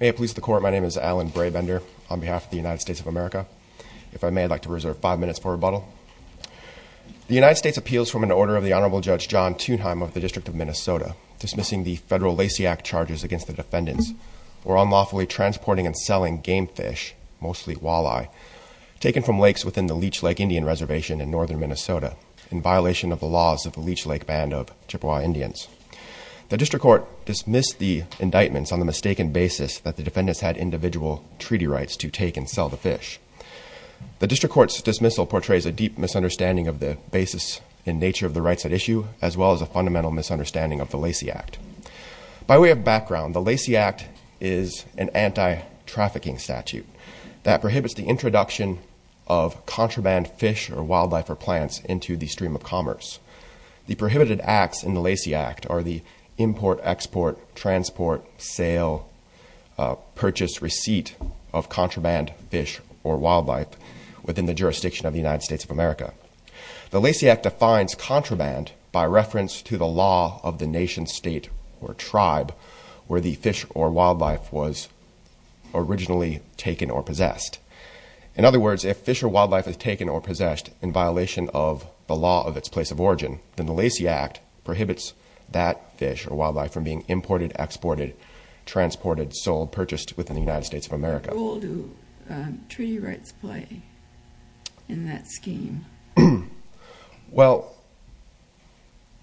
May it please the Court, my name is Alan Braybender on behalf of the United States of America. If I may, I'd like to reserve five minutes for rebuttal. The United States appeals from an order of the Honorable Judge John Thunheim of the District of Minnesota dismissing the federal Lacey Act charges against the defendants for unlawfully transporting and selling game fish, mostly walleye, taken from lakes within the Leech Lake Indian Reservation in northern Minnesota in violation of the laws of the Leech Lake Band of Chippewa Indians. The District Court dismissed the indictments on the mistaken basis that the defendants had individual treaty rights to take and sell the fish. The District Court's dismissal portrays a deep misunderstanding of the basis and nature of the rights at issue as well as a fundamental misunderstanding of the Lacey Act. By way of background, the Lacey Act is an anti-trafficking statute that prohibits the introduction of contraband fish or wildlife or plants into the stream of commerce. The prohibited acts in the Lacey Act are the import, export, transport, sale, purchase, receipt of contraband fish or wildlife within the jurisdiction of the United States of America. The Lacey Act defines contraband by reference to the law of the nation, state, or tribe where the fish or wildlife was originally taken or possessed. In other words, if fish or wildlife is taken or possessed in violation of the law of its place of origin, then the Lacey Act prohibits that fish or wildlife from being imported, exported, transported, sold, purchased within the United States of America. What role do treaty rights play in that scheme? Well,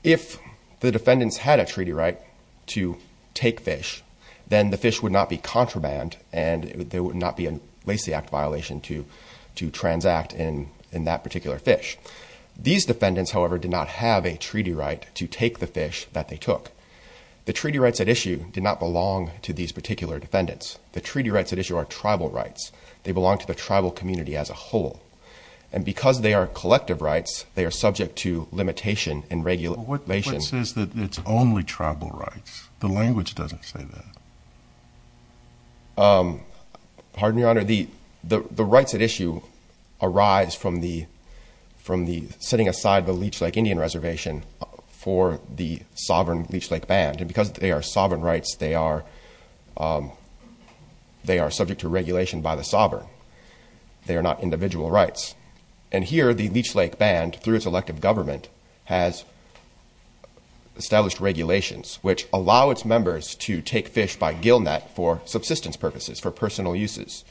if the defendants had a treaty right to take fish, then the fish would not be contraband and there would not be a Lacey Act violation to transact in that particular fish. These defendants, however, did not have a treaty right to take the fish that they took. The treaty rights at issue did not belong to these particular defendants. The treaty rights at issue are tribal rights. They belong to the tribal community as a whole. And because they are collective rights, they are subject to limitation and regulation. But what says that it's only tribal rights? The language doesn't say that. Pardon me, Your Honor. Your Honor, the rights at issue arise from the setting aside the Leech Lake Indian Reservation for the sovereign Leech Lake Band. And because they are sovereign rights, they are subject to regulation by the sovereign. They are not individual rights. And here the Leech Lake Band, through its elective government, has established regulations which allow its members to take fish by gill net for subsistence purposes, for personal uses.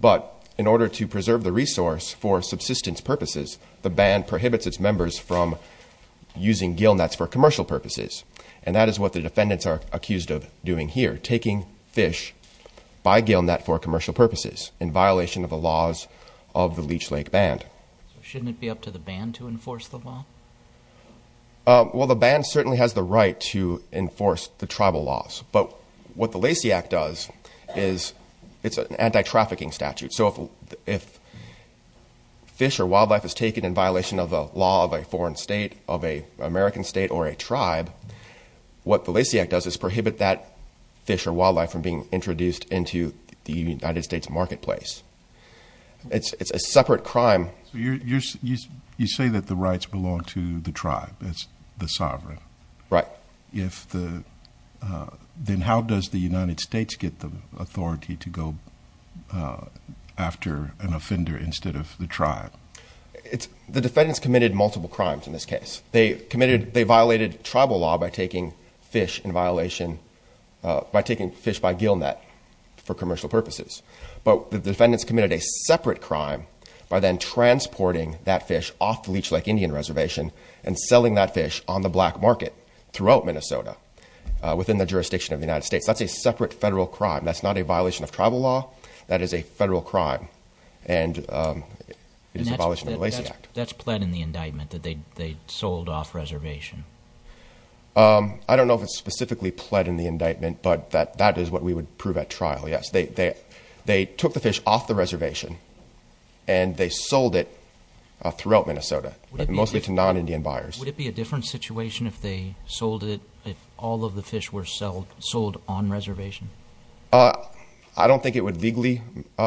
But in order to preserve the resource for subsistence purposes, the band prohibits its members from using gill nets for commercial purposes. And that is what the defendants are accused of doing here, taking fish by gill net for commercial purposes in violation of the laws of the Leech Lake Band. So shouldn't it be up to the band to enforce the law? Well, the band certainly has the right to enforce the tribal laws. But what the Lacey Act does is it's an anti-trafficking statute. So if fish or wildlife is taken in violation of a law of a foreign state, of an American state, or a tribe, what the Lacey Act does is prohibit that fish or wildlife from being introduced into the United States marketplace. It's a separate crime. You say that the rights belong to the tribe, the sovereign. Right. Then how does the United States get the authority to go after an offender instead of the tribe? The defendants committed multiple crimes in this case. They violated tribal law by taking fish by gill net for commercial purposes. But the defendants committed a separate crime by then transporting that fish off the Leech Lake Indian Reservation and selling that fish on the black market throughout Minnesota within the jurisdiction of the United States. That's a separate federal crime. That's not a violation of tribal law. That is a federal crime, and it is abolished in the Lacey Act. That's pled in the indictment that they sold off reservation. I don't know if it's specifically pled in the indictment, but that is what we would prove at trial, yes. They took the fish off the reservation, and they sold it throughout Minnesota, mostly to non-Indian buyers. Would it be a different situation if they sold it, if all of the fish were sold on reservation? I don't think it would legally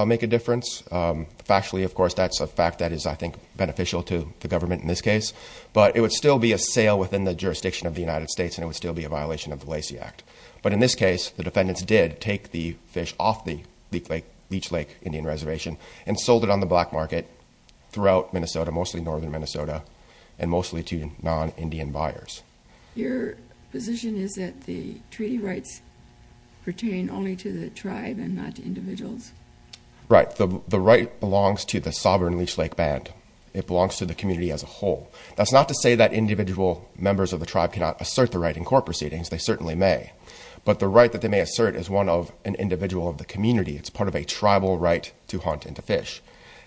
make a difference. Factually, of course, that's a fact that is, I think, beneficial to the government in this case. But it would still be a sale within the jurisdiction of the United States, and it would still be a violation of the Lacey Act. But in this case, the defendants did take the fish off the Leech Lake Indian Reservation and sold it on the black market throughout Minnesota, mostly northern Minnesota, and mostly to non-Indian buyers. Your position is that the treaty rights pertain only to the tribe and not to individuals? Right. The right belongs to the sovereign Leech Lake Band. It belongs to the community as a whole. That's not to say that individual members of the tribe cannot assert the right in court proceedings. They certainly may. But the right that they may assert is one of an individual of the community. It's part of a tribal right to hunt and to fish.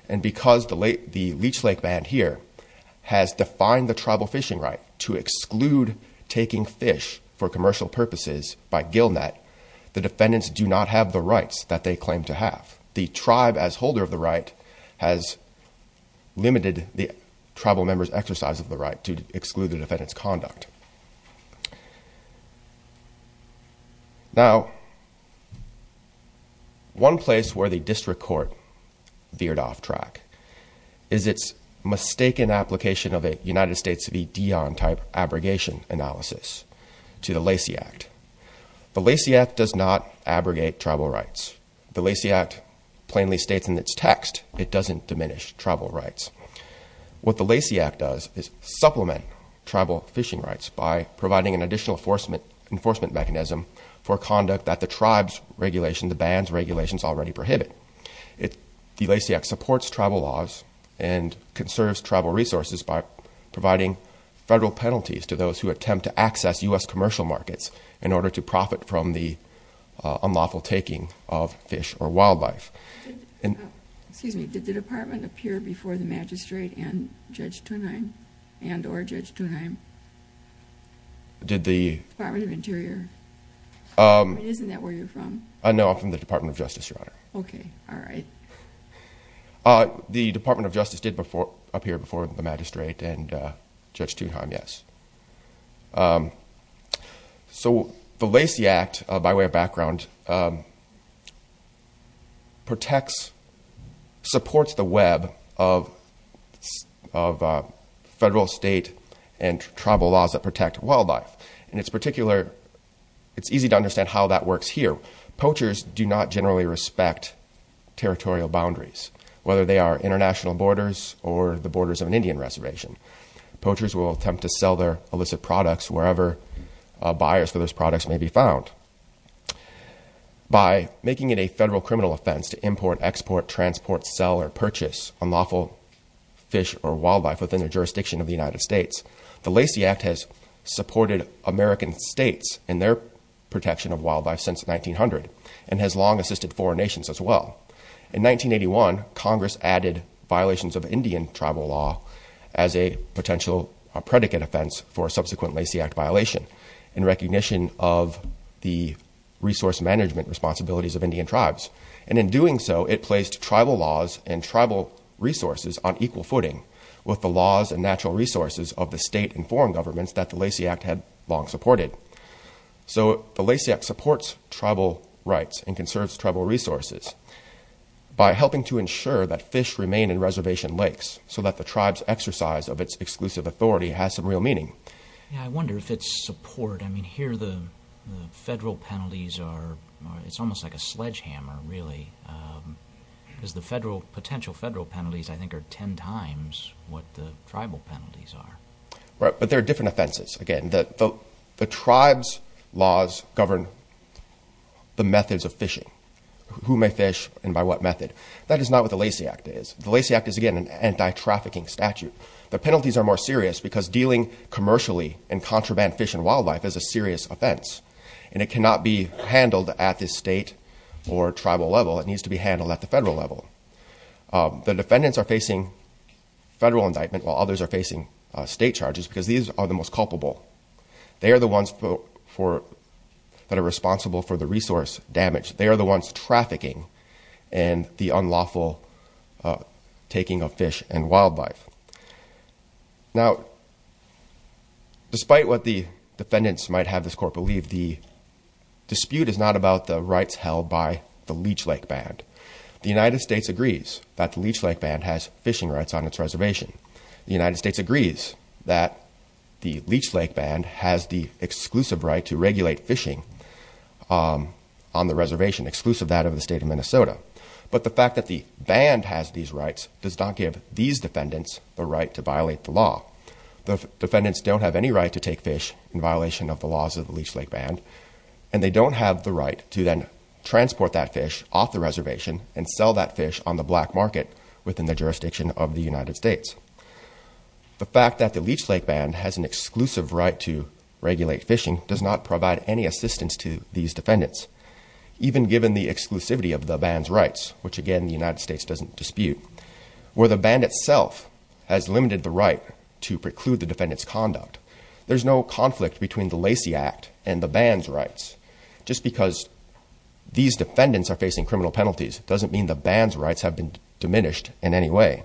And because the Leech Lake Band here has defined the tribal fishing right to exclude taking fish for commercial purposes by gill net, the defendants do not have the rights that they claim to have. The tribe, as holder of the right, has limited the tribal members' exercise of the right to exclude the defendant's conduct. Now, one place where the district court veered off track is its mistaken application of a United States v. Dion type abrogation analysis to the Lacey Act. The Lacey Act does not abrogate tribal rights. The Lacey Act plainly states in its text it doesn't diminish tribal rights. What the Lacey Act does is supplement tribal fishing rights by providing an additional enforcement mechanism for conduct that the tribe's regulation, the band's regulations, already prohibit. The Lacey Act supports tribal laws and conserves tribal resources by providing federal penalties to those who attempt to access U.S. commercial markets in order to profit from the unlawful taking of fish or wildlife. Excuse me, did the department appear before the magistrate and Judge Thunheim and or Judge Thunheim? Department of Interior. Isn't that where you're from? No, I'm from the Department of Justice, Your Honor. The Department of Justice did appear before the magistrate and Judge Thunheim, yes. So the Lacey Act, by way of background, protects, supports the web of federal, state, and tribal laws that protect wildlife. In particular, it's easy to understand how that works here. Poachers do not generally respect territorial boundaries, whether they are international borders or the borders of an Indian reservation. Poachers will attempt to sell their illicit products wherever buyers for those products may be found. By making it a federal criminal offense to import, export, transport, sell, or purchase unlawful fish or wildlife within the jurisdiction of the United States, the Lacey Act has supported American states in their protection of wildlife since 1900 and has long assisted foreign nations as well. In 1981, Congress added violations of Indian tribal law as a potential predicate offense for a subsequent Lacey Act violation in recognition of the resource management responsibilities of Indian tribes. And in doing so, it placed tribal laws and tribal resources on equal footing with the laws and natural resources of the state and foreign governments that the Lacey Act had long supported. So, the Lacey Act supports tribal rights and conserves tribal resources by helping to ensure that fish remain in reservation lakes so that the tribe's exercise of its exclusive authority has some real meaning. Yeah, I wonder if it's support. I mean, here the federal penalties are, it's almost like a sledgehammer, really. Because the federal, potential federal penalties, I think, are ten times what the tribal penalties are. But there are different offenses, again. The tribe's laws govern the methods of fishing, who may fish and by what method. That is not what the Lacey Act is. The Lacey Act is, again, an anti-trafficking statute. The penalties are more serious because dealing commercially in contraband fish and wildlife is a serious offense. And it cannot be handled at the state or tribal level. It needs to be handled at the federal level. The defendants are facing federal indictment while others are facing state charges because these are the most culpable. They are the ones that are responsible for the resource damage. They are the ones trafficking and the unlawful taking of fish and wildlife. Now, despite what the defendants might have this court believe, the dispute is not about the rights held by the Leech Lake Band. The United States agrees that the Leech Lake Band has fishing rights on its reservation. The United States agrees that the Leech Lake Band has the exclusive right to regulate fishing on the reservation, exclusive of that of the state of Minnesota. But the fact that the band has these rights does not give these defendants the right to violate the law. The defendants don't have any right to take fish in violation of the laws of the Leech Lake Band. And they don't have the right to then transport that fish off the reservation and sell that fish on the black market within the jurisdiction of the United States. The fact that the Leech Lake Band has an exclusive right to regulate fishing does not provide any assistance to these defendants. Even given the exclusivity of the band's rights, which again the United States doesn't dispute, where the band itself has limited the right to preclude the defendant's conduct, there's no conflict between the Lacey Act and the band's rights. Just because these defendants are facing criminal penalties doesn't mean the band's rights have been diminished in any way.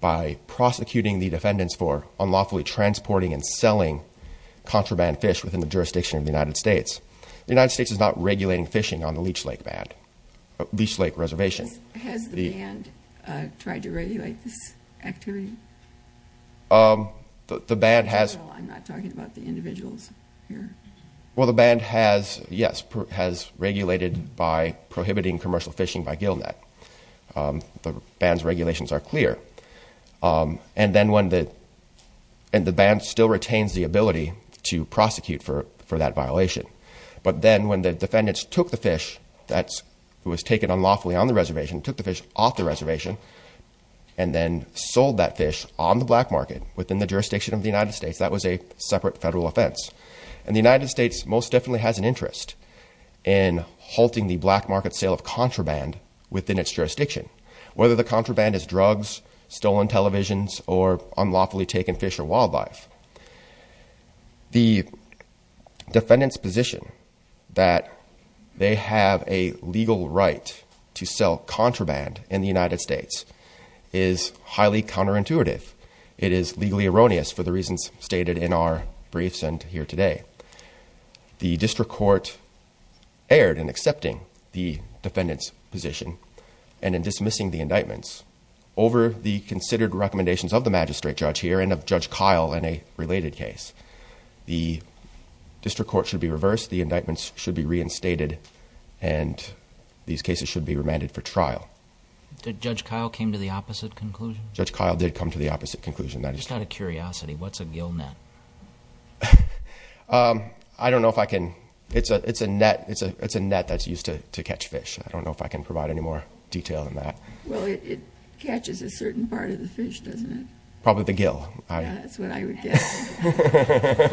By prosecuting the defendants for unlawfully transporting and selling contraband fish within the jurisdiction of the United States, the United States is not regulating fishing on the Leech Lake Reservation. Has the band tried to regulate this activity? I'm not talking about the individuals here. Well, the band has, yes, has regulated by prohibiting commercial fishing by gill net. The band's regulations are clear. And the band still retains the ability to prosecute for that violation. But then when the defendants took the fish that was taken unlawfully on the reservation, took the fish off the reservation, and then sold that fish on the black market within the jurisdiction of the United States, that was a separate federal offense. And the United States most definitely has an interest in halting the black market sale of contraband within its jurisdiction. Whether the contraband is drugs, stolen televisions, or unlawfully taken fish or wildlife, the defendant's position that they have a legal right to sell contraband in the United States is highly counterintuitive. It is legally erroneous for the reasons stated in our briefs and here today. The district court erred in accepting the defendant's position and in disobeying it. Dismissing the indictments over the considered recommendations of the magistrate judge here and of Judge Kyle in a related case. The district court should be reversed, the indictments should be reinstated, and these cases should be remanded for trial. Did Judge Kyle came to the opposite conclusion? Judge Kyle did come to the opposite conclusion. Just out of curiosity, what's a gill net? I don't know if I can, it's a net that's used to catch fish. I don't know if I can provide any more detail than that. Well, it catches a certain part of the fish, doesn't it? Probably the gill. Yeah, that's what I would guess. That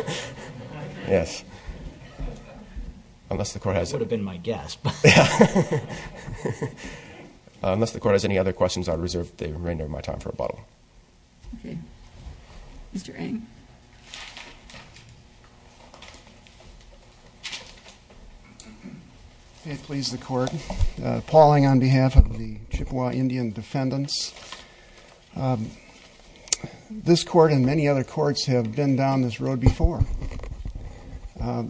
would have been my guess, but. Unless the court has any other questions, I reserve the remainder of my time for rebuttal. Okay, Mr. Ng. It please the court, Paul Ng on behalf of the Chippewa Indian defendants. This court and many other courts have been down this road before.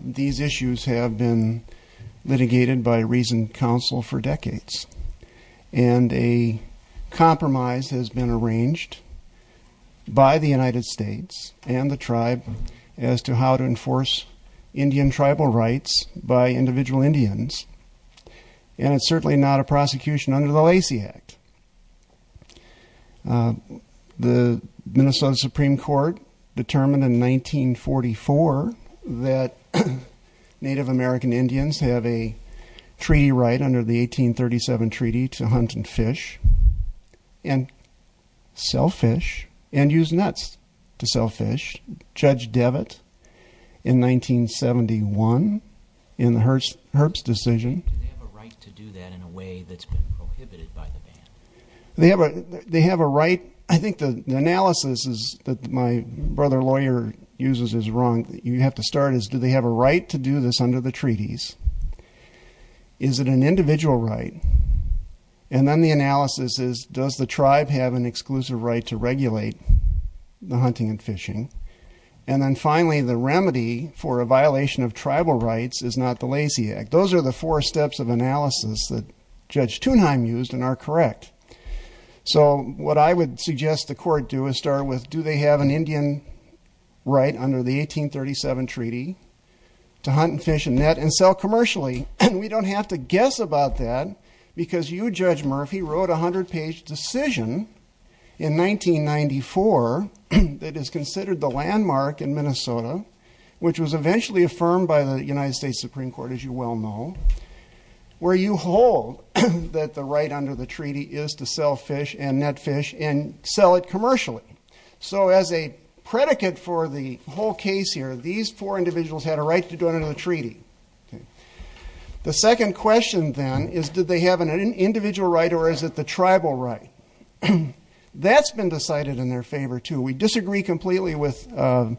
These issues have been litigated by reasoned counsel for decades, and a compromise has been arranged by the United States and the tribe as to how to enforce Indian tribal rights by individual Indians, and it's certainly not a prosecution under the Lacey Act. The Minnesota Supreme Court determined in 1944 that Native American Indians have a treaty right under the 1837 treaty to hunt and fish and sell fish and use nets to sell fish. Judge Devitt in 1971 in the Herbst decision. Do they have a right to do that in a way that's been prohibited by the ban? I think the analysis that my brother lawyer uses is wrong. You have to start as, do they have a right to do this under the treaties? Is it an individual right? And then the analysis is, does the tribe have an exclusive right to regulate the hunting and fishing? And then finally, the remedy for a violation of tribal rights is not the Lacey Act. Those are the four steps of analysis that Judge Thunheim used and are correct. So what I would suggest the court do is start with, do they have an Indian right under the 1837 treaty to hunt and fish and net and sell commercially? And we don't have to guess about that, because you, Judge Murphy, wrote a 100-page decision in 1994 that is considered the landmark in Minnesota, which was eventually affirmed by the United States Supreme Court, as you well know, where you hold that the right under the treaty is to sell fish and net fish and sell it commercially. So as a predicate for the whole case here, these four individuals had a right to do it under the treaty. The second question, then, is did they have an individual right or is it the tribal right? That's been decided in their favor, too. We disagree completely with our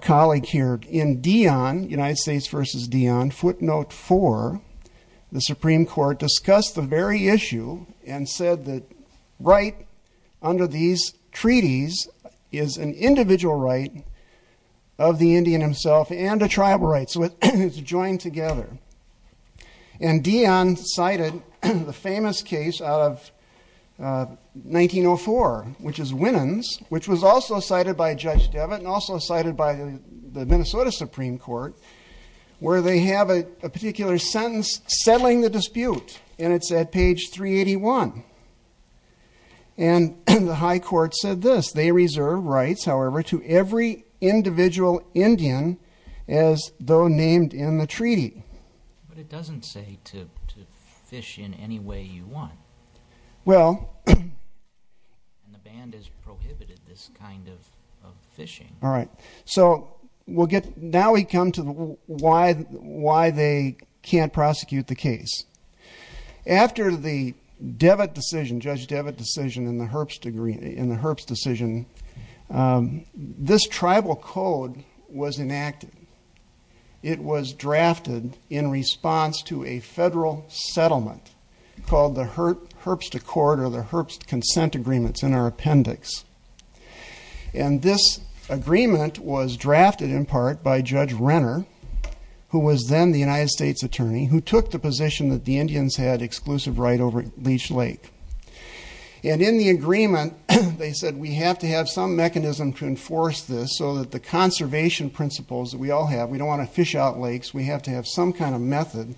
colleague here. In Dion, United States v. Dion, footnote 4, the Supreme Court discussed the very issue and said that right under these treaties is an individual right of the Indian himself and a tribal right, so it's joined together. And Dion cited the famous case out of 1904, which is Winans, which was also cited by Judge Devitt and also cited by the Minnesota Supreme Court, where they have a particular sentence settling the dispute, and it's at page 381. And the high court said this, they reserve rights, however, to every individual Indian as though named in the treaty. But it doesn't say to fish in any way you want. And the band has prohibited this kind of fishing. All right, so now we come to why they can't prosecute the case. After the Devitt decision, Judge Devitt decision in the Herbst decision, this tribal code was enacted. It was drafted in response to a federal settlement called the Herbst Accord or the Herbst Consent Agreements in our appendix. And this agreement was drafted in part by Judge Renner, who was then the United States attorney, who took the position that the Indians had exclusive right over Leech Lake. And in the agreement, they said we have to have some mechanism to enforce this so that the conservation principles that we all have, we don't want to fish out lakes, we have to have some kind of method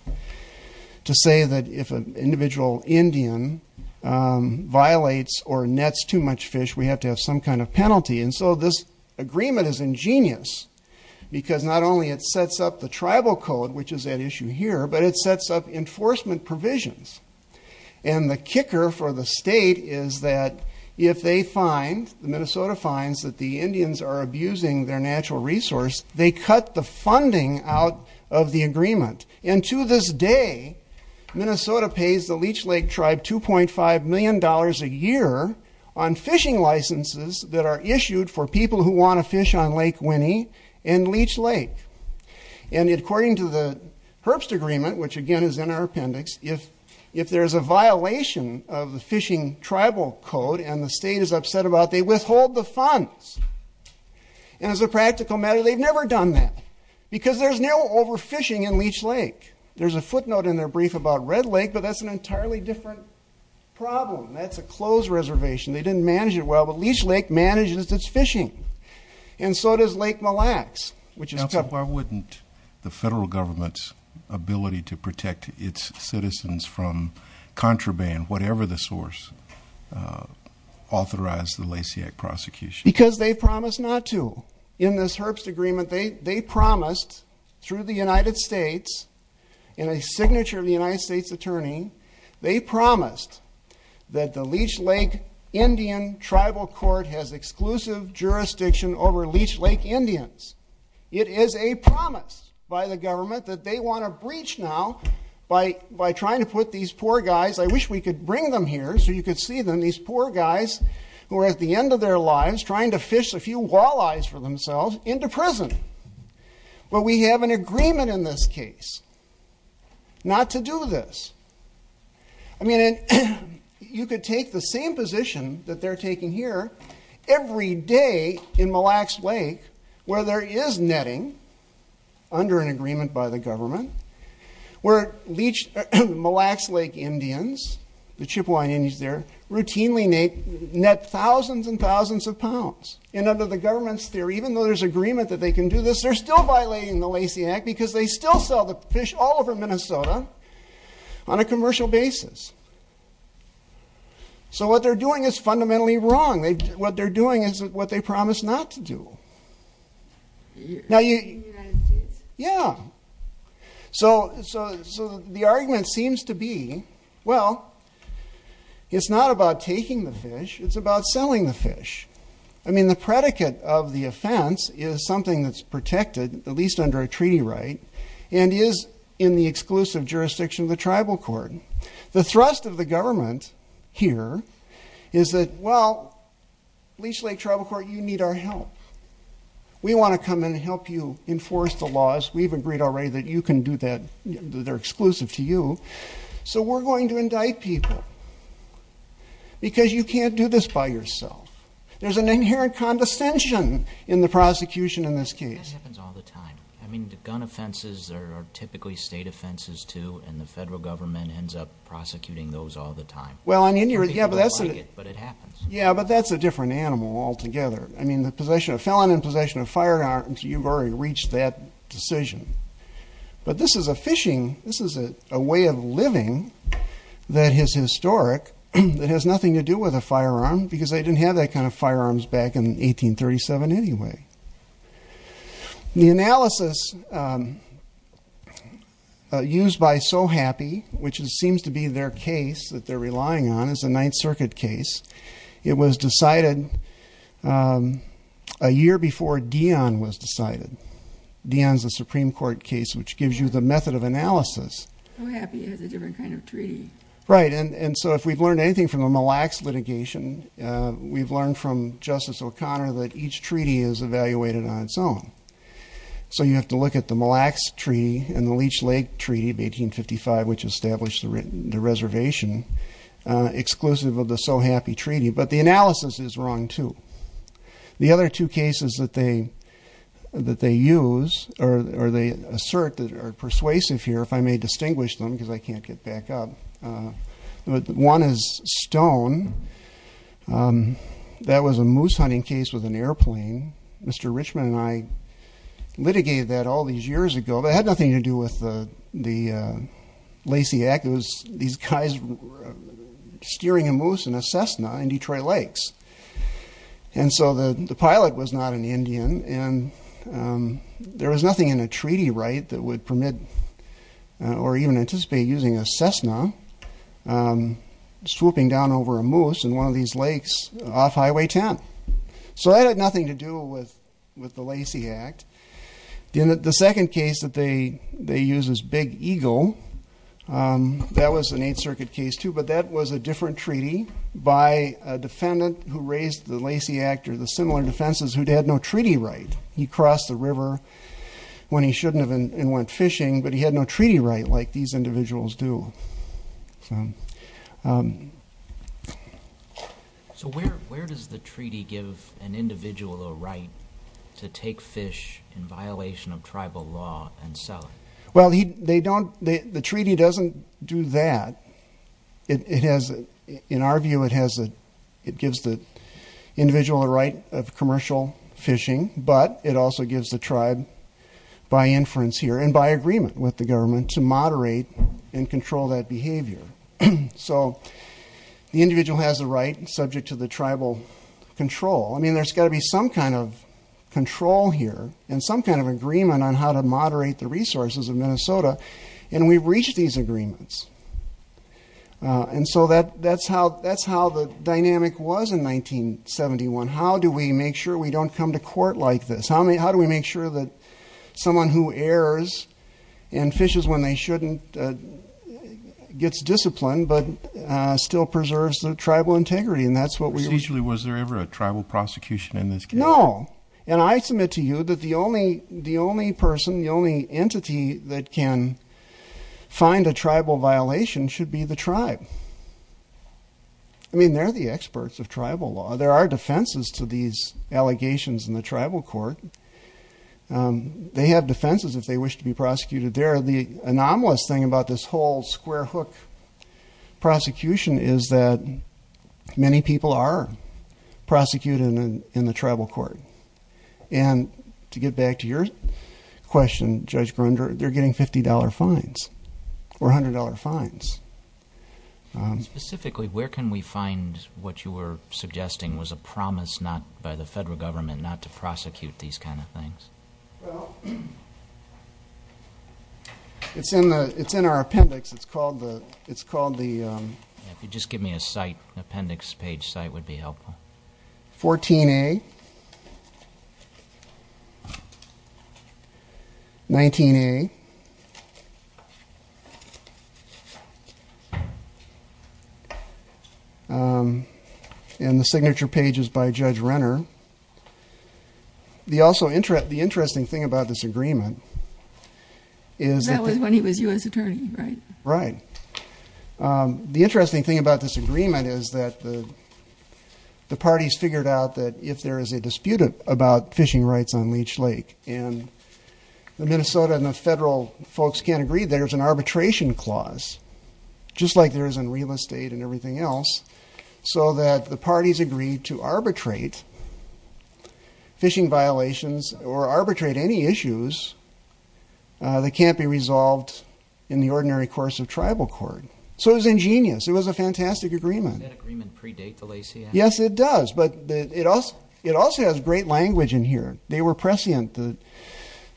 to say that if an individual Indian violates or nets too much fish, we have to have some kind of penalty. And so this agreement is ingenious, because not only it sets up the tribal code, which is at issue here, but it sets up enforcement provisions. And the kicker for the state is that if they find, the Minnesota finds, that the Indians are abusing their natural resource, they cut the funding out of the agreement. And to this day, Minnesota pays the Leech Lake tribe $2.5 million a year on fishing licenses that are issued for people who want to fish on Lake Winnie and Leech Lake. And according to the Herbst Agreement, which again is in our appendix, if there's a violation of the fishing tribal code and the state is upset about it, they withhold the funds. And as a practical matter, they've never done that, because there's no overfishing in Leech Lake. There's a footnote in their brief about Red Lake, but that's an entirely different problem. That's a closed reservation. They didn't manage it well, but Leech Lake manages its fishing. And so does Lake Mille Lacs. Now, so why wouldn't the federal government's ability to protect its citizens from contraband, whatever the source, authorize the Lacy Act prosecution? Because they promised not to. In this Herbst Agreement, they promised through the United States, in a signature of the United States Attorney, they promised that the Leech Lake Indian Tribal Court has exclusive jurisdiction over Leech Lake Indians. It is a promise by the government that they want to breach now by trying to put these poor guys I wish we could bring them here so you could see them, these poor guys who are at the end of their lives trying to fish a few walleyes for themselves into prison. But we have an agreement in this case not to do this. I mean, you could take the same position that they're taking here every day in Mille Lacs Lake where there is netting, under an agreement by the government, where Mille Lacs Lake Indians, the Chippewa Indians there, routinely net thousands and thousands of pounds. And under the government's theory, even though there's agreement that they can do this, they're still violating the Lacy Act because they still sell the fish all over Minnesota on a commercial basis. So what they're doing is fundamentally wrong. What they're doing is what they promised not to do. So the argument seems to be, well, it's not about taking the fish, it's about selling the fish. I mean, the predicate of the offense is something that's protected, at least under a treaty right, and is in the exclusive jurisdiction of the tribal court. The thrust of the government here is that, well, Leech Lake Tribal Court, you need our help. We want to come in and help you enforce the laws. We've agreed already that you can do that, that they're exclusive to you. So we're going to indict people because you can't do this by yourself. There's an inherent condescension in the prosecution in this case. That happens all the time. I mean, the gun offenses are typically state offenses, too, and the federal government ends up prosecuting those all the time. People like it, but it happens. Yeah, but that's a different animal altogether. I mean, the possession of felon and possession of firearms, you've already reached that decision. But this is a fishing, this is a way of living that is historic that has nothing to do with a firearm, because they didn't have that kind of firearms back in 1837 anyway. The analysis used by So Happy, which seems to be their case that they're relying on, is a Ninth Circuit case. It was decided a year before Dion was decided. Dion's a Supreme Court case, which gives you the method of analysis. So Happy has a different kind of treaty. Right, and so if we've learned anything from the Mille Lacs litigation, we've learned from Justice O'Connor that each treaty is evaluated on its own. So you have to look at the Mille Lacs Treaty and the Leech Lake Treaty of 1855, which established the reservation, exclusive of the So Happy Treaty, but the analysis is wrong, too. The other two cases that they use, or they assert, that are persuasive here, if I may distinguish them, because I can't get back up. One is Stone. That was a moose hunting case with an airplane. Mr. Richman and I litigated that all these years ago, but it had nothing to do with the Lacey Act. It was these guys steering a moose in a Cessna in Detroit Lakes. And so the pilot was not an Indian, and there was nothing in a treaty right that would permit, or even anticipate using a Cessna swooping down over a moose in one of these lakes off Highway 10. So that had nothing to do with the Lacey Act. The second case that they use is Big Eagle. That was an Eighth Circuit case, too, but that was a different treaty by a defendant who raised the Lacey Act, or the similar defenses, who had no treaty right. He crossed the river when he shouldn't have and went fishing, but he had no treaty right like these individuals do. So where does the treaty give an individual a right to take fish in violation of tribal law and sell it? Well, the treaty doesn't do that. In our view, it gives the individual a right of commercial fishing, but it also gives the tribe, by inference here, and by agreement with the government, to moderate and control their fishing. So the individual has the right, subject to the tribal control. I mean, there's got to be some kind of control here, and some kind of agreement on how to moderate the resources of Minnesota, and we've reached these agreements. And so that's how the dynamic was in 1971. How do we make sure we don't come to court like this? How do we make sure that someone who errs and fishes when they shouldn't gets disciplined, but still preserves their tribal integrity? And that's what we... No, and I submit to you that the only person, the only entity that can find a tribal violation should be the tribe. I mean, they're the experts of tribal law. They have defenses if they wish to be prosecuted there. The anomalous thing about this whole square-hook prosecution is that many people are prosecuted in the tribal court. And to get back to your question, Judge Grunder, they're getting $50 fines, or $100 fines. Specifically, where can we find what you were suggesting was a promise by the federal government not to prosecute these kinds of violations? Well, it's in our appendix. It's called the... 14A, 19A, and the signature page is by Judge Renner. The interesting thing about this agreement is that... That was when he was U.S. Attorney, right? Right. The interesting thing about this agreement is that the parties figured out that if there is a dispute about fishing rights on Leech Lake, and the Minnesota and the federal folks can't agree, there's an arbitration clause, just like there is in real estate and everything else, so that the parties agreed to arbitrate fishing violations, or arbitrate any issues that can't be resolved in the ordinary course of tribal court. So it was ingenious. It was a fantastic agreement. Does that agreement predate the Lacey Act? Yes, it does, but it also has great language in here. They were prescient.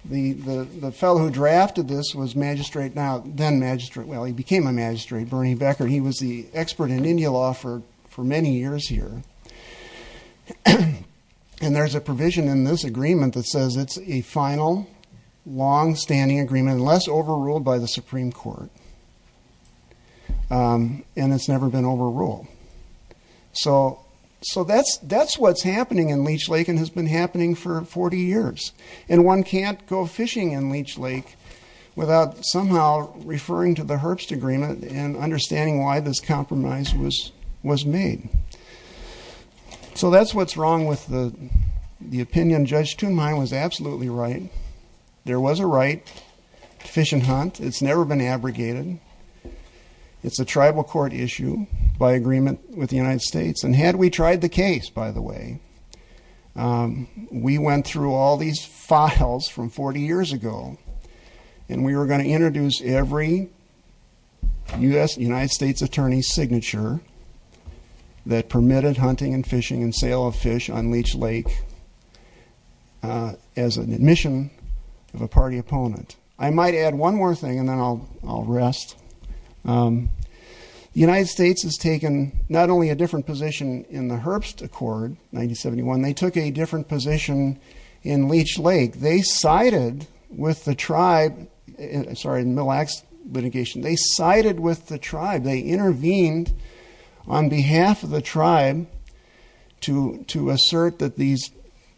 The fellow who drafted this was magistrate now, then magistrate, well, he became a magistrate, Bernie Becker, and he was the expert in Indian law for many years here. And there's a provision in this agreement that says it's a final, long-standing agreement, unless overruled by the Supreme Court. And it's never been overruled. So that's what's happening in Leech Lake and has been happening for 40 years. And one can't go fishing in Leech Lake without somehow referring to the Herbst Agreement and understanding why this compromise was made. So that's what's wrong with the opinion. Judge Thunheim was absolutely right. There was a right to fish and hunt. It's never been abrogated. It's a tribal court issue by agreement with the United States. And had we tried the case, by the way, we went through all these files from 40 years ago, and we were going to introduce every United States attorney's signature that permitted hunting and fishing and sale of fish on Leech Lake as an admission of a party opponent. I might add one more thing, and then I'll rest. The United States has taken not only a different position in the Herbst Accord, 1971, they took a different position in Leech Lake. They sided with the tribe. They intervened on behalf of the tribe to assert that these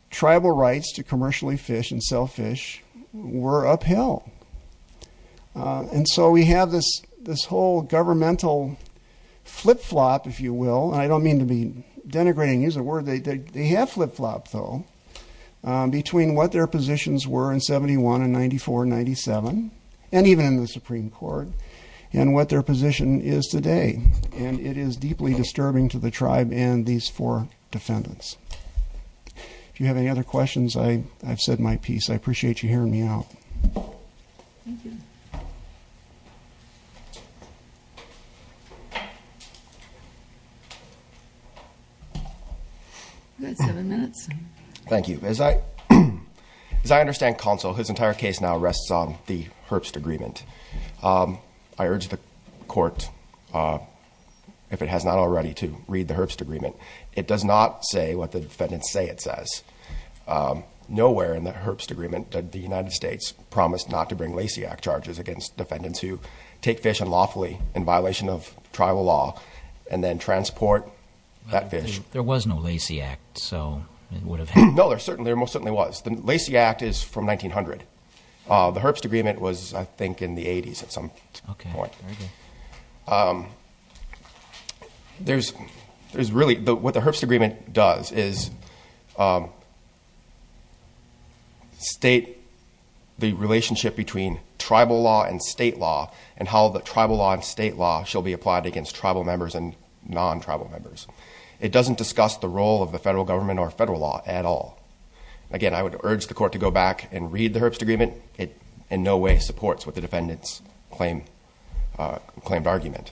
tribal rights to commercially fish and sell fish were upheld. And so we have this whole governmental flip-flop, if you will. And I don't mean to be denigrating, use the word. They have flip-flopped, though, between what their positions were in 71 and 94, 97, and even in the Supreme Court, and what their position is today. And it is deeply disturbing to the tribe and these four defendants. If you have any other questions, I've said my piece. I appreciate you hearing me out. You've got seven minutes. Thank you. As I understand, Counsel, his entire case now rests on the Herbst Agreement. I urge the Court, if it has not already, to read the Herbst Agreement. It does not say what the defendants say it says. Nowhere in the Herbst Agreement did the United States promise not to bring Lasiak charges against defendants who take fish unlawfully in violation of tribal law and then transport that fish. There was no Lasiak, so it would have happened. No, there most certainly was. The Lasiak is from 1900. The Herbst Agreement was, I think, in the 80s at some point. What the Herbst Agreement does is state the relationship between tribal law and state law, and how the tribal law and state law shall be applied against tribal members and non-tribal members. It doesn't discuss the role of the federal government or federal law at all. Again, I would urge the Court to go back and read the Herbst Agreement. It in no way supports what the defendants claimed argument.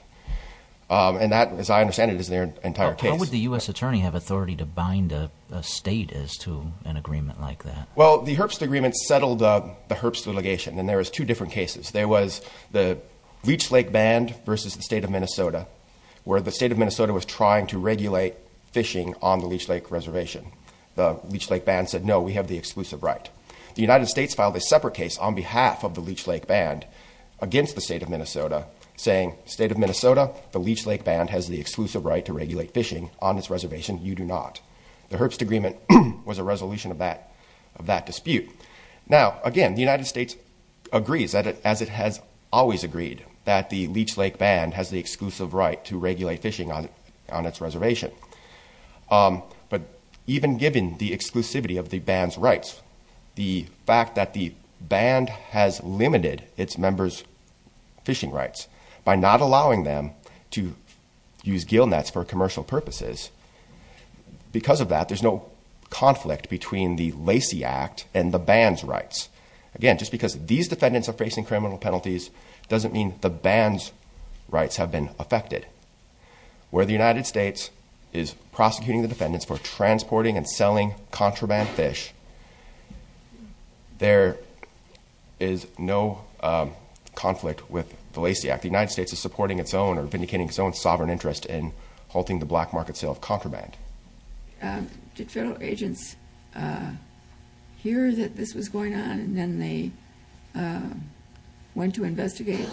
And that, as I understand it, is their entire case. Well, how would the U.S. attorney have authority to bind a state as to an agreement like that? Well, the Herbst Agreement settled the Herbst litigation, and there was two different cases. There was the Leech Lake Band versus the state of Minnesota, where the state of Minnesota was trying to regulate fishing on the Leech Lake Reservation. The Leech Lake Band said, no, we have the exclusive right. The United States filed a separate case on behalf of the Leech Lake Band against the state of Minnesota, saying, state of Minnesota, the Leech Lake Band has the exclusive right to regulate fishing on its reservation. You do not. The Herbst Agreement was a resolution of that dispute. Now, again, the United States agrees, as it has always agreed, that the Leech Lake Band has the exclusive right to regulate fishing on its reservation. But even given the exclusivity of the band's rights, the fact that the band has limited its members' fishing rights by not allowing them to use gill nets for commercial purposes, because of that, there's no conflict between the Lacey Act and the band's rights. Again, just because these defendants are facing criminal penalties doesn't mean the band's rights have been affected. Where the United States is prosecuting the defendants for transporting and selling contraband fish, there is no conflict with the Lacey Act. The United States is supporting its own or vindicating its own sovereign interest in halting the black market sale of contraband. Did federal agents hear that this was going on, and then they went to investigate?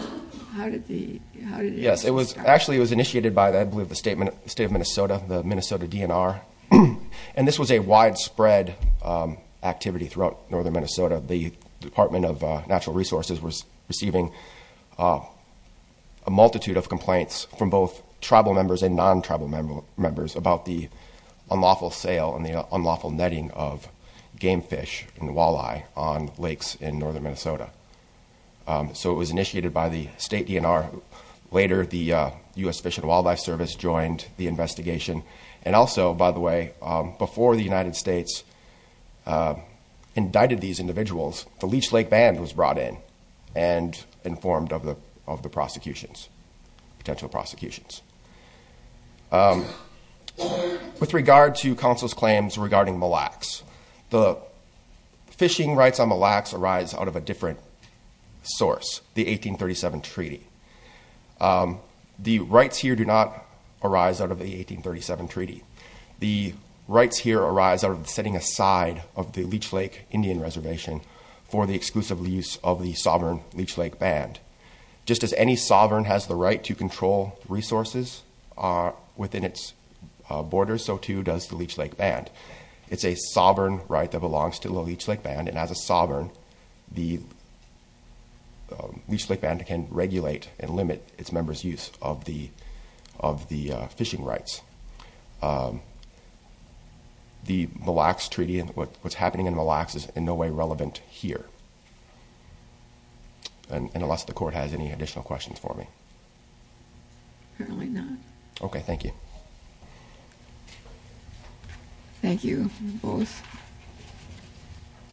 Yes. Actually, it was initiated by, I believe, the state of Minnesota, the Minnesota DNR. And this was a widespread activity throughout northern Minnesota. The Department of Natural Resources was receiving a multitude of complaints from both tribal members and non-tribal members about the unlawful sale and the unlawful netting of game fish and walleye on lakes in northern Minnesota. So it was initiated by the state DNR. Later, the U.S. Fish and Wildlife Service joined the investigation. And also, by the way, before the United States indicted these individuals, the Leech Lake Band was brought in and informed of the prosecutions, potential prosecutions. With regard to counsel's claims regarding Mille Lacs, the fishing rights on Mille Lacs arise out of a different source, the 1837 Treaty. The rights here do not arise out of the 1837 Treaty. The rights here arise out of the setting aside of the Leech Lake Indian Reservation for the exclusive use of the sovereign Leech Lake Band. Just as any sovereign has the right to control resources within its borders, so too does the Leech Lake Band. It's a sovereign right that belongs to the Leech Lake Band, and as a sovereign, the Leech Lake Band can regulate and limit its members' use of the fishing rights. The Mille Lacs Treaty and what's happening in Mille Lacs is in no way relevant here. And unless the Court has any additional questions for me. Okay, thank you. Thank you, both.